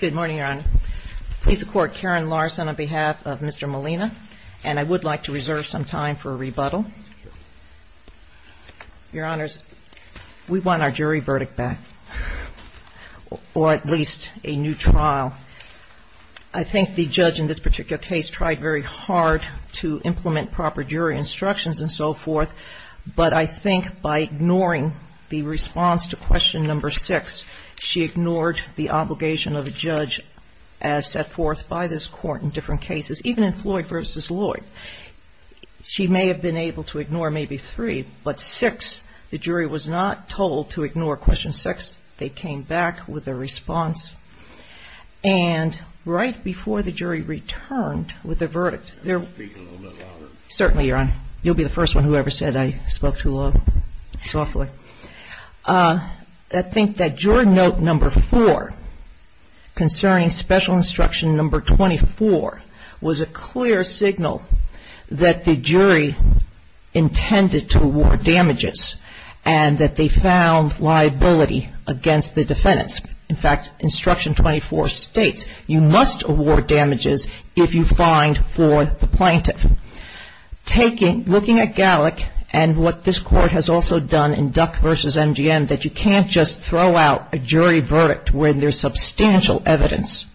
Good morning, Your Honor. Please support Karen Larson on behalf of Mr. Molina, and I would like to reserve some time for a rebuttal. Your Honors, we want our jury verdict back, or at least a new trial. I think the judge in this particular case tried very hard to implement proper jury instructions and so forth, but I think by ignoring the response to question number six, she ignored the obligation of a judge as set forth by this court in different cases, even in Floyd v. Lloyd. She may have been able to ignore maybe three, but six, the jury was not told to ignore question six. They came back with a response, and right before the jury returned with a verdict, certainly Your Honor, you'll be the first one who ever said I spoke too softly. I think that jury note number four, concerning special instruction number 24, was a clear signal that the jury intended to award damages, and that they found liability against the defendants. In fact, instruction 24 states, you must award damages if you find for the plaintiff. Looking at Gallick and what this court has also done in Duck v. MGM, that you can't just throw out a jury verdict when there's substantial evidence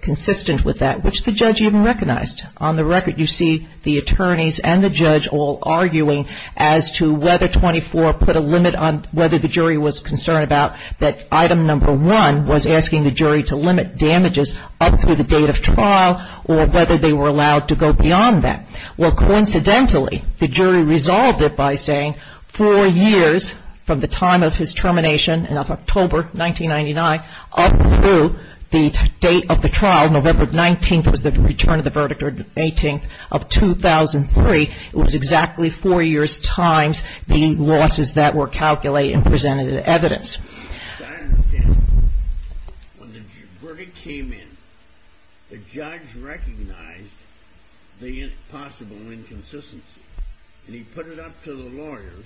consistent with that, which the judge even recognized. On the record, you see the attorneys and the judge all arguing as to whether 24 put a limit on whether the jury was concerned about that item number one was asking the jury to limit damages up to the date of trial or whether they were allowed to go beyond that. Well, coincidentally, the jury resolved it by saying four years from the time of his termination in October 1999 up to the date of the trial, November 19th was the return of the verdict, or the 18th of 2003, it was I understand. When the verdict came in, the judge recognized the possible inconsistency, and he put it up to the lawyers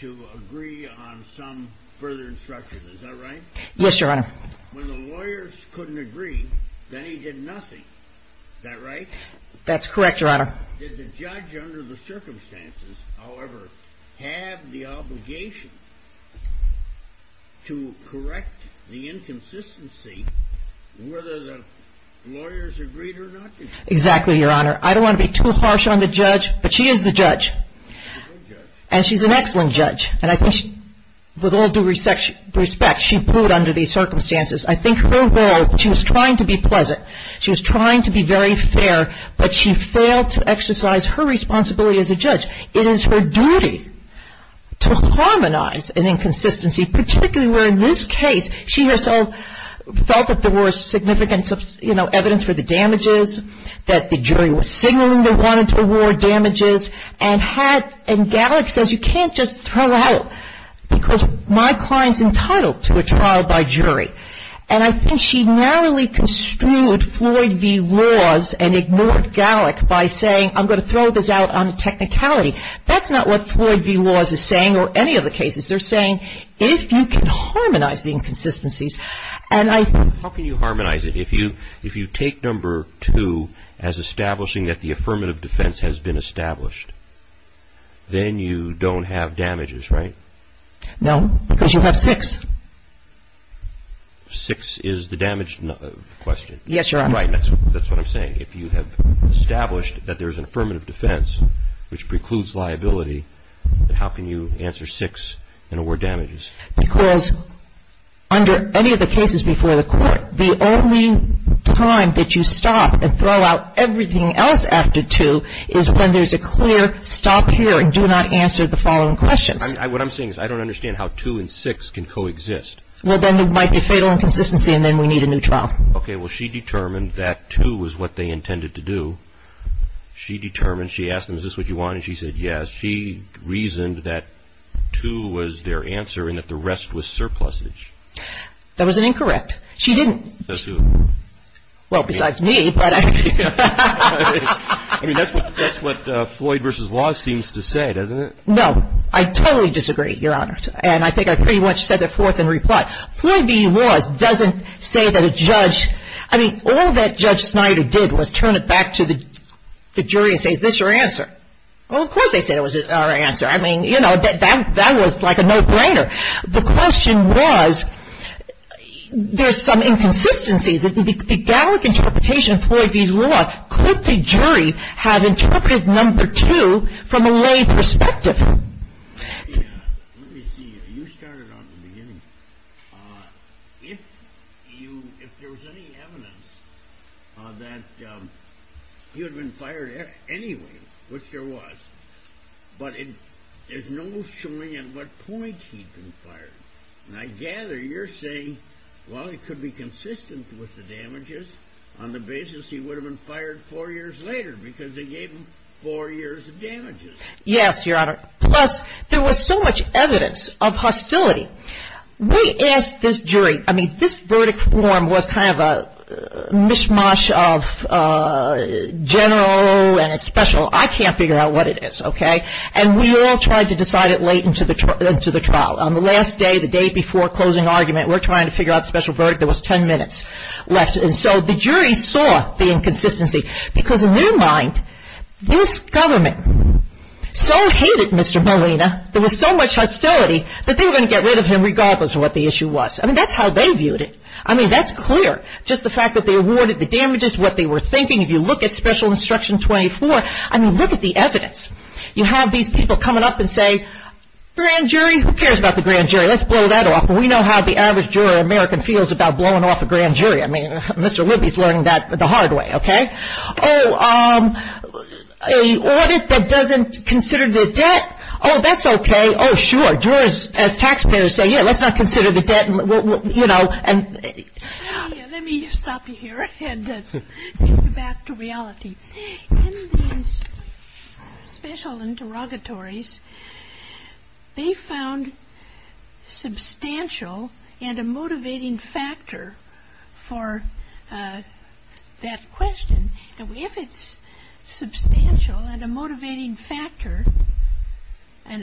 to agree on some further instruction. Is that right? Yes, Your Honor. When the lawyers couldn't agree, then he did nothing. Is that right? That's correct, Your Honor. Did the judge, under the circumstances, however, have the obligation to correct the inconsistency whether the lawyers agreed or not? Exactly, Your Honor. I don't want to be too harsh on the judge, but she is the judge, and she's an excellent judge, and I think she, with all due respect, she pulled under these circumstances. I think her role, she was trying to be pleasant, she was trying to be very fair, but she failed to exercise her responsibility as a judge. It is her duty to harmonize an inconsistency, particularly where in this case, she herself felt that there was significant evidence for the damages, that the jury was signaling they wanted to award damages, and had, and Gallick says, you can't just throw out, because my client's construed Floyd v. Laws and ignored Gallick by saying, I'm going to throw this out on technicality. That's not what Floyd v. Laws is saying, or any of the cases. They're saying, if you can harmonize the inconsistencies, and I think... How can you harmonize it? If you take number two as establishing that the affirmative defense has been established, then you don't have damages, right? No, because you have six. Six is the damaged question. Yes, Your Honor. Right, that's what I'm saying. If you have established that there's an affirmative defense, which precludes liability, then how can you answer six and award damages? Because under any of the cases before the court, the only time that you stop and throw out everything else after two is when there's a clear stop here and do not answer the following questions. What I'm saying is I don't understand how two and six can coexist. Well, then it might be fatal inconsistency, and then we need a new trial. Okay, well, she determined that two was what they intended to do. She determined, she asked them, is this what you want? And she said, yes. She reasoned that two was their answer and that the rest was surplusage. That was an incorrect. She didn't. Says who? Well, besides me, but... I mean, that's what Floyd v. Laws seems to say, doesn't it? No, I totally disagree, Your Honors. And I think I pretty much said that forth in reply. Floyd v. Laws doesn't say that a judge, I mean, all that Judge Snyder did was turn it back to the jury and say, is this your answer? Well, of course they said it was our answer. I mean, you know, that was like a no-brainer. The question was, there's some inconsistency. The Gallick interpretation of Floyd v. Laws had interpreted number two from a lay perspective. Yeah, let me see here. You started off in the beginning. If there was any evidence that he had been fired anyway, which there was, but there's no showing at what point he'd been fired. And I gather you're saying, well, it could be consistent with the damages on the basis he would have been fired four years later, because they gave him four years of damages. Yes, Your Honor. Plus, there was so much evidence of hostility. We asked this jury, I mean, this verdict form was kind of a mishmash of general and a special. I can't figure out what it is, okay? And we all tried to decide it late into the trial. On the last day, the day before closing argument, we're trying to figure out the special verdict. There was 10 minutes left. And so the jury saw the inconsistency, because in their mind, this government so hated Mr. Molina, there was so much hostility, that they were going to get rid of him regardless of what the issue was. I mean, that's how they viewed it. I mean, that's clear. Just the fact that they awarded the damages, what they were thinking. If you look at Special Instruction 24, I mean, look at the evidence. You have these people coming up and say, grand jury? Who cares about the grand jury? Let's blow that off. We know how the average juror in America feels about blowing off a grand jury. I mean, Mr. Libby is learning that the hard way, okay? Oh, an audit that doesn't consider the debt? Oh, that's okay. Oh, sure. Jurors, as taxpayers, say, yeah, let's not consider the debt and, you know, and. Let me stop you here and take you back to reality. In the special interrogatories, they found substantial and a motivating factor for that question. If it's substantial and a motivating factor, would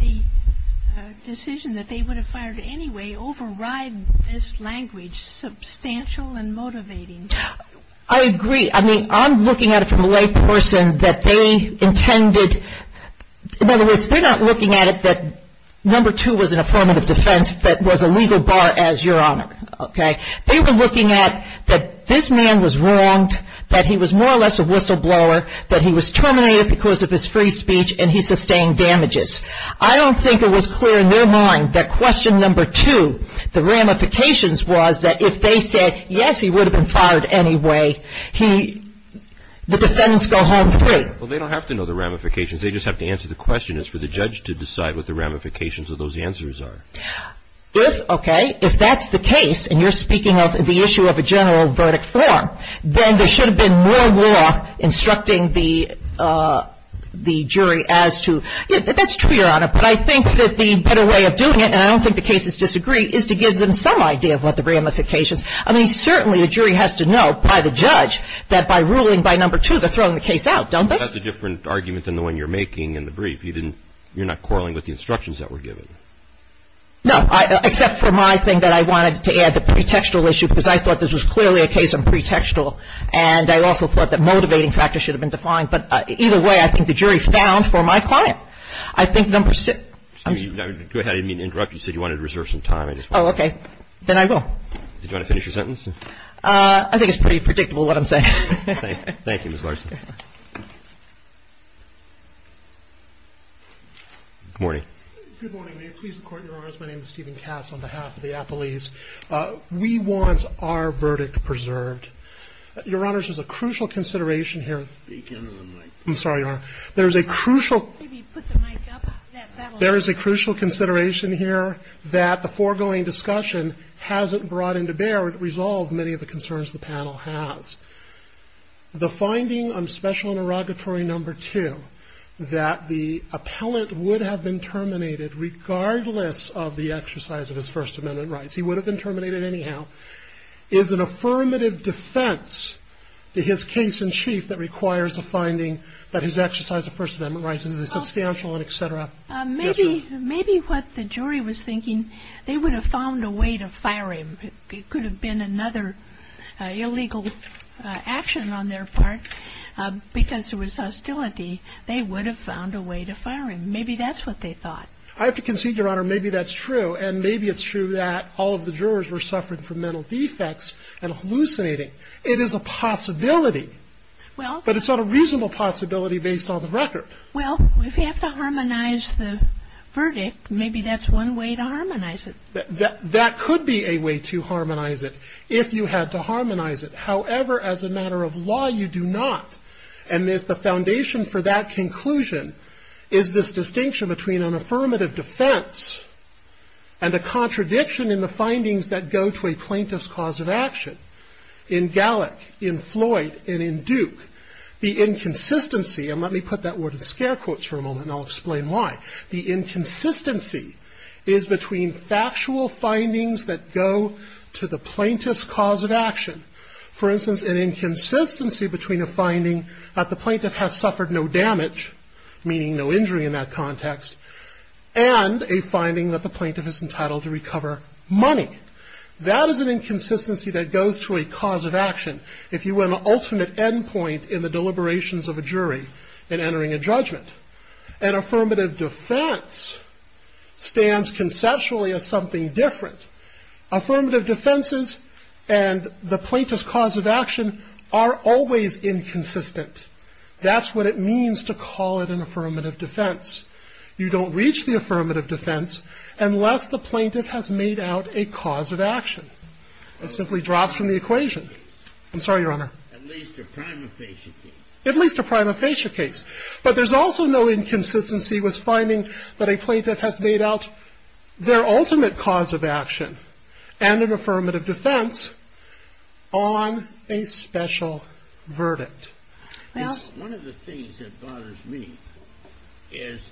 the decision that they would have fired anyway override this language? Substantial and motivating? I agree. I mean, I'm looking at it from a layperson that they intended. In other words, they're not looking at it that number two was an affirmative defense that was a legal bar as your honor, okay? They were looking at that this man was wronged, that he was more or less a whistleblower, that he was terminated because of his free speech and he sustained damages. I don't think it was clear in their mind that question number two, the ramifications, was that if they said, yes, he would have been fired anyway, the defendants go home free. Well, they don't have to know the ramifications. They just have to answer the question. It's for the judge to decide what the ramifications of those answers are. If, okay, if that's the case, and you're speaking of the issue of a general verdict form, then there should have been more law instructing the jury as to, that's true, your honor, but I think that the better way of doing it, and I don't think the cases disagree, is to give them some idea of what the ramifications are. I mean, certainly the jury has to know by the judge that by ruling by number two, they're throwing the case out, don't they? That's a different argument than the one you're making in the brief. You didn't you're not quarreling with the instructions that were given. No, except for my thing that I wanted to add, the pretextual issue, because I thought this was clearly a case of pretextual, and I also thought that motivating factors should have been defined, but either way, I think the jury found for my client, I think number six. Excuse me, I didn't mean to interrupt. You said you wanted to reserve some time. Oh, okay. Then I will. Do you want to finish your sentence? I think it's pretty predictable what I'm saying. Thank you, Ms. Larson. Good morning. Good morning. May it please the Court, Your Honors. My name is Steven Katz on behalf of the Panel. I'm going to speak into the microphone. I'm sorry, Your Honor. There's a crucial Excuse me. Put the mic up. There is a crucial consideration here that the foregoing discussion hasn't brought into bear. It resolves many of the concerns the panel has. The finding on special interrogatory number two that the appellant would have been terminated regardless of the exercise of his First Amendment rights. He would have been terminated anyhow. Is an affirmative defense to his case in chief that requires a finding that his exercise of First Amendment rights is substantial and et cetera? Maybe what the jury was thinking, they would have found a way to fire him. It could have been another illegal action on their part. Because there was hostility, they would have found a way to fire him. Maybe that's what they thought. I have to concede, Your Honor, maybe that's true. Maybe it's true that all of the jurors were suffering from mental defects and hallucinating. It is a possibility, but it's not a reasonable possibility based on the record. Well, if you have to harmonize the verdict, maybe that's one way to harmonize it. That could be a way to harmonize it if you had to harmonize it. However, as a matter of law, you do not. And the foundation for that conclusion is this distinction between an affirmative defense and a contradiction in the findings that go to a plaintiff's cause of action. In Gallick, in Floyd, and in Duke, the inconsistency, and let me put that word in scare quotes for a moment and I'll explain why, the inconsistency is between factual findings that go to the plaintiff's cause of action. For instance, an inconsistency between a finding that the plaintiff has suffered no damage, meaning no injury in that context, and a finding that the plaintiff is entitled to recover money. That is an inconsistency that goes to a cause of action if you were an alternate endpoint in the deliberations of a jury in entering a judgment. An affirmative defense stands conceptually as something different. Affirmative defenses and the plaintiff's cause of action are always inconsistent. That's what it means to call it an affirmative defense. You don't reach the affirmative defense unless the plaintiff has made out a cause of action. It simply drops from the equation. I'm sorry, Your Honor. At least a prima facie case. At least a prima facie case. But there's also no inconsistency with finding that a plaintiff has made out their ultimate cause of action and an affirmative defense on a special verdict. One of the things that bothers me is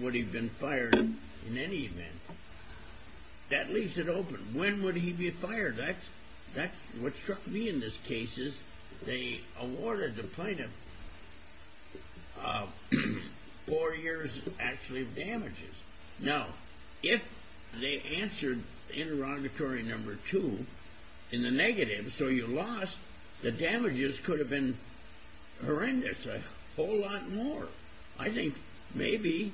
would he have been fired in any event? That leaves it open. When would he be fired? What struck me in this case is they awarded the plaintiff four years actually of damages. Now, if they answered interrogatory number two in the negative, so you lost, the damages could have been horrendous, a whole lot more. I think maybe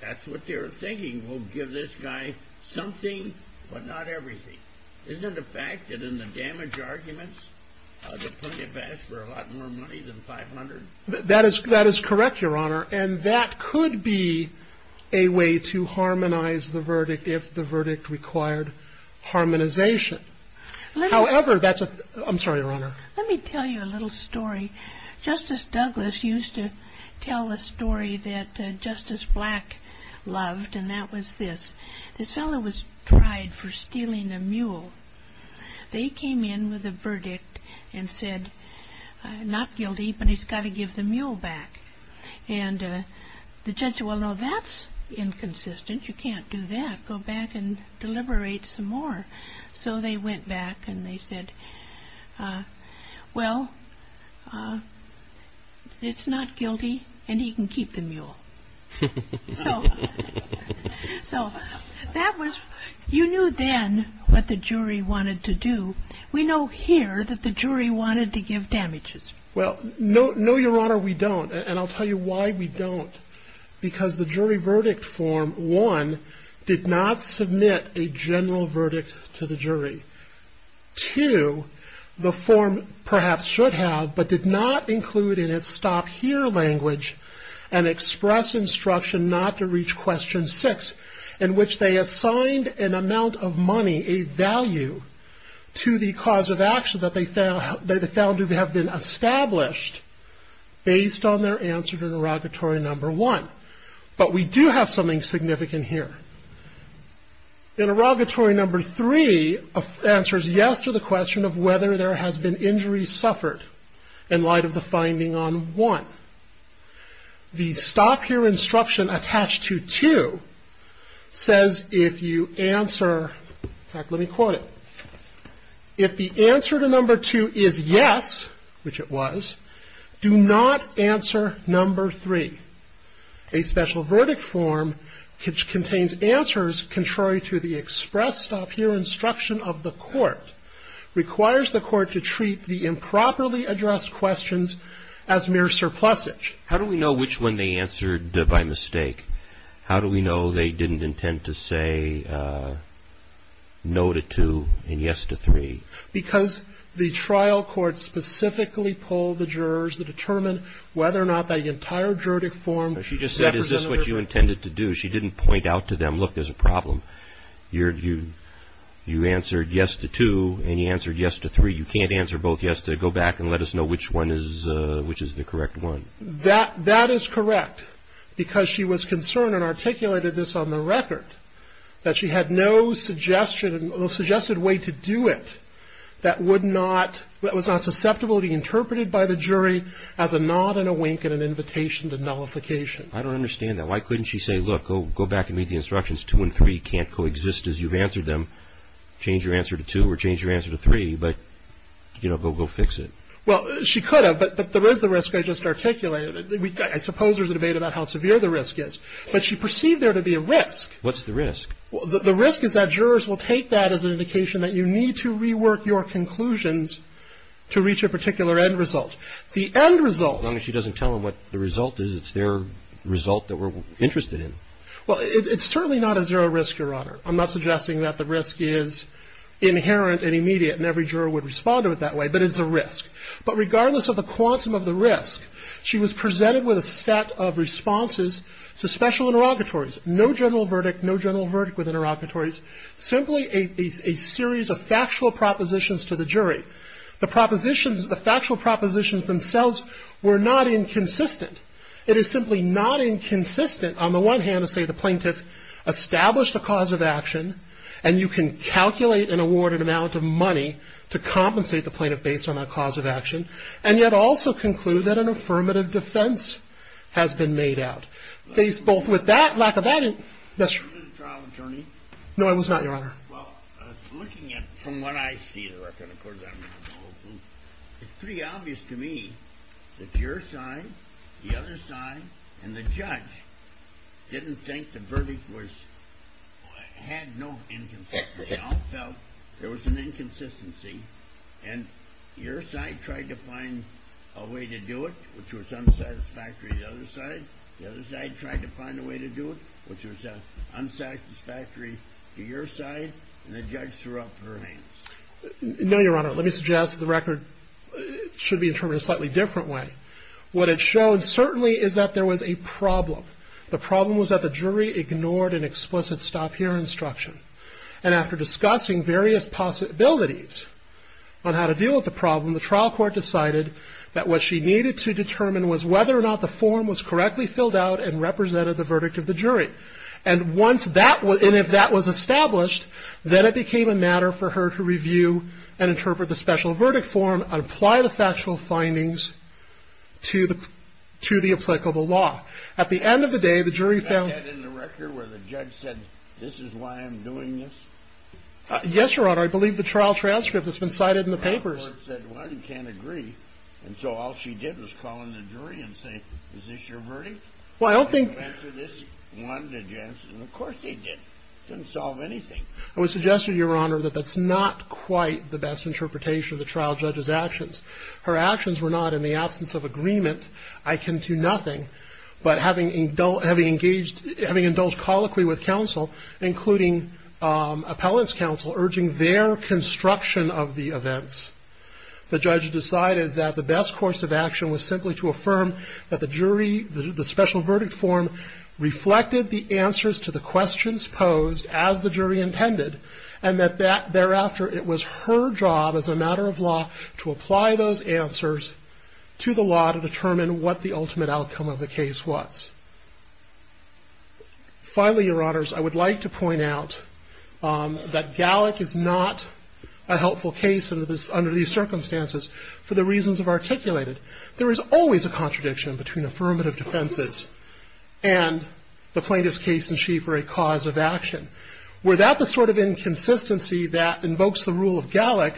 that's what they were thinking. We'll give this guy something, but not everything. Isn't it a fact that in the damage arguments, the plaintiff asked for a lot more money than 500? That is correct, Your Honor. And that could be a way to harmonize the verdict if the verdict required harmonization. However, that's a... I'm sorry, Your Honor. Let me tell you a little story. Justice Douglas used to tell a story that Justice Black loved, and that was this. This fellow was tried for stealing a mule. They came in with a verdict and said, not guilty, but he's got to give the mule back. And the judge said, well, no, that's inconsistent. You can't do that. Go back and deliberate some more. So they went back and they said, well, it's not guilty, and he can keep the mule. So that was... You knew then what the jury wanted to do. We know here that the jury wanted to give damages. Well, no, Your Honor, we don't. And I'll tell you why we don't. Because the jury verdict form, one, did not submit a general verdict to the jury. Two, the form perhaps should have, but did not include in its stop here language, an express instruction not to reach question six, in which they assigned an amount of money, a value, to the cause of action that they found to have been established based on their answer to interrogatory number one. But we do have something significant here. Interrogatory number three answers yes to the question of whether there has been injuries suffered in light of the finding on one. The stop here instruction attached to two says if you answer... In fact, let me quote it. If the answer to number two is yes, which it was, do not answer number three. A special verdict form which contains answers contrary to the express stop here instruction of the court requires the court to treat the improperly addressed questions as mere surplusage. How do we know which one they answered by mistake? How do we know they didn't intend to say no to two and yes to three? Because the trial court specifically polled the jurors to determine whether or not the entire juridic form... She just said, is this what you intended to do? She didn't point out to them, look, there's a problem. You answered yes to two and you answered yes to three. You can't answer both yes to... Go back and let us know which one is the correct one. That is correct because she was concerned and articulated this on the record that she had no suggested way to do it that was not susceptible to be interpreted by the jury as a nod and a wink and an invitation to nullification. I don't understand that. Why couldn't she say, look, go back and read the instructions, two and three can't coexist as you've answered them. Change your answer to two or change your answer to three, but go fix it. Well, she could have, but there is the risk I just articulated. I suppose there's a debate about how severe the risk is. But she perceived there to be a risk. What's the risk? The risk is that jurors will take that as an indication that you need to rework your conclusions to reach a particular end result. The end result... As long as she doesn't tell them what the result is, it's their result that we're interested in. Well, it's certainly not a zero risk, Your Honor. I'm not suggesting that the risk is inherent and immediate and every juror would respond to it that way, but it's a risk. But regardless of the quantum of the risk, she was presented with a set of responses to special interrogatories. No general verdict, no general verdict with interrogatories, simply a series of factual propositions to the jury. The propositions, the factual propositions themselves were not inconsistent. It is simply not inconsistent on the one hand to say the plaintiff established a cause of action and you can calculate and award an amount of money to compensate the plaintiff based on that cause of action and yet also conclude that an affirmative defense has been made out. Faced both with that lack of... Were you a trial attorney? No, I was not, Your Honor. Well, looking at from what I see, it's pretty obvious to me that your side, the other side, and the judge didn't think the verdict was... had no inconsistency. They all felt there was an inconsistency and your side tried to find a way to do it, which was unsatisfactory to the other side. The other side tried to find a way to do it, which was unsatisfactory to your side and the judge threw up her hands. No, Your Honor. Let me suggest the record should be interpreted in a slightly different way. What it showed certainly is that there was a problem. The problem was that the jury ignored an explicit stop here instruction and after discussing various possibilities on how to deal with the problem, the trial court decided that what she needed to determine was whether or not the form was correctly filled out and represented the verdict of the jury and if that was established, then it became a matter for her to review and interpret the special verdict form and apply the factual findings to the applicable law. At the end of the day, the jury found... Is that in the record where the judge said, this is why I'm doing this? Yes, Your Honor. I believe the trial transcript has been cited in the papers. The trial court said, well, I can't agree and so all she did was call in the jury and say, is this your verdict? Well, I don't think... Did you answer this? One, did you answer this? Of course, they did. It didn't solve anything. It was suggested, Your Honor, that that's not quite the best interpretation of the trial judge's actions. Her actions were not in the absence of agreement. I can do nothing but having indulged colloquially with counsel, including appellant's counsel, urging their construction of the events. The judge decided that the best course of action was simply to affirm that the jury, the special verdict form reflected the answers to the questions posed as the jury intended and that thereafter, it was her job as a matter of law to apply those answers to the law to determine what the ultimate outcome of the case was. Finally, Your Honors, I would like to point out that Gallick is not a helpful case under these circumstances for the reasons I've articulated. There is always a contradiction between affirmative defenses and the plaintiff's case in chief or a cause of action. Without the sort of inconsistency that invokes the rule of Gallick,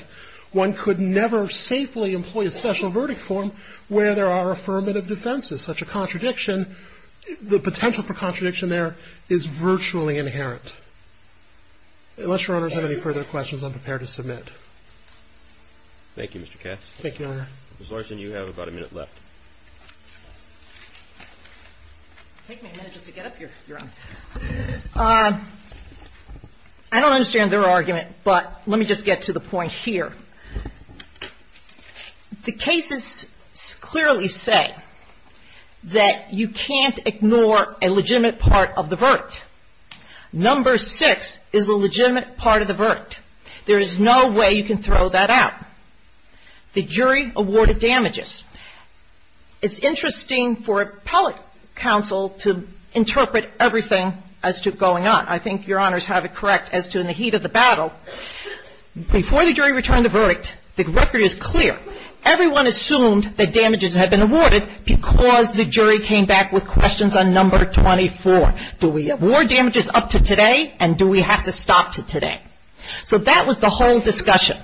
one could never safely employ a special verdict form where there are affirmative defenses. Such a contradiction, the potential for contradiction there is virtually inherent. Unless Your Honors have any further questions, I'm prepared to submit. Thank you, Mr. Cass. Thank you, Your Honor. Ms. Larson, you have about a minute left. Take me a minute just to get up here, Your Honor. I don't understand their argument, but let me just get to the point here. The cases clearly say that you can't ignore a legitimate part of the verdict. Number six is a legitimate part of the verdict. There is no way you can throw that out. The jury awarded damages. It's interesting for appellate counsel to interpret everything as to going on. I think Your Honors have it correct as to in the heat of the battle, before the jury returned the verdict, the record is clear. Everyone assumed that damages had been awarded because the jury came back with questions on number 24. Do we award damages up to today, and do we have to stop to today? So that was the whole discussion.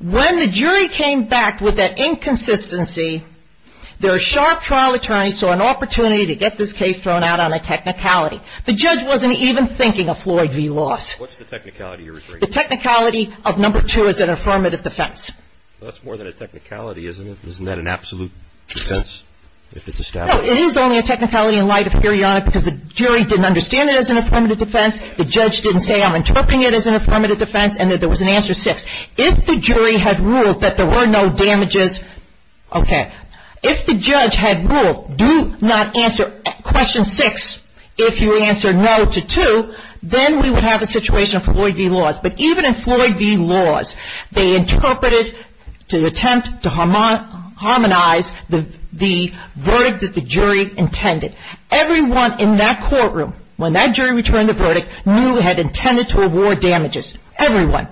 When the jury came back with that inconsistency, their sharp trial attorney saw an opportunity to get this case thrown out on a technicality. The judge wasn't even thinking of Floyd v. Loss. What's the technicality, Your Honor? The technicality of number two is an affirmative defense. That's more than a technicality, isn't it? Isn't that an absolute defense if it's established? No, it is only a technicality in light of periodic because the jury didn't understand it as an affirmative defense. The judge didn't say, I'm interpreting it as an affirmative defense, and that there was an answer six. If the jury had ruled that there were no damages, okay. If the judge had ruled do not answer question six if you answer no to two, then we would have a situation of Floyd v. Loss. But even in Floyd v. Loss, they interpreted to attempt to harmonize the verdict that the jury intended. Everyone in that courtroom, when that jury returned the verdict, knew it had intended to award damages. Everyone.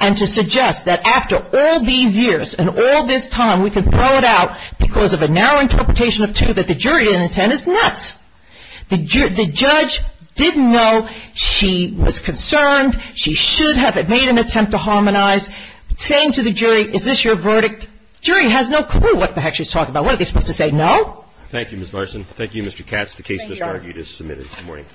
And to suggest that after all these years and all this time, we can throw it out because of a narrow interpretation of two that the jury didn't intend is nuts. The judge didn't know she was concerned. She should have made an attempt to harmonize, saying to the jury, is this your verdict? Jury has no clue what the heck she's talking about. What are they supposed to say? No? Thank you, Ms. Larson. Thank you, Mr. Katz. The case, as argued, is submitted. Good morning.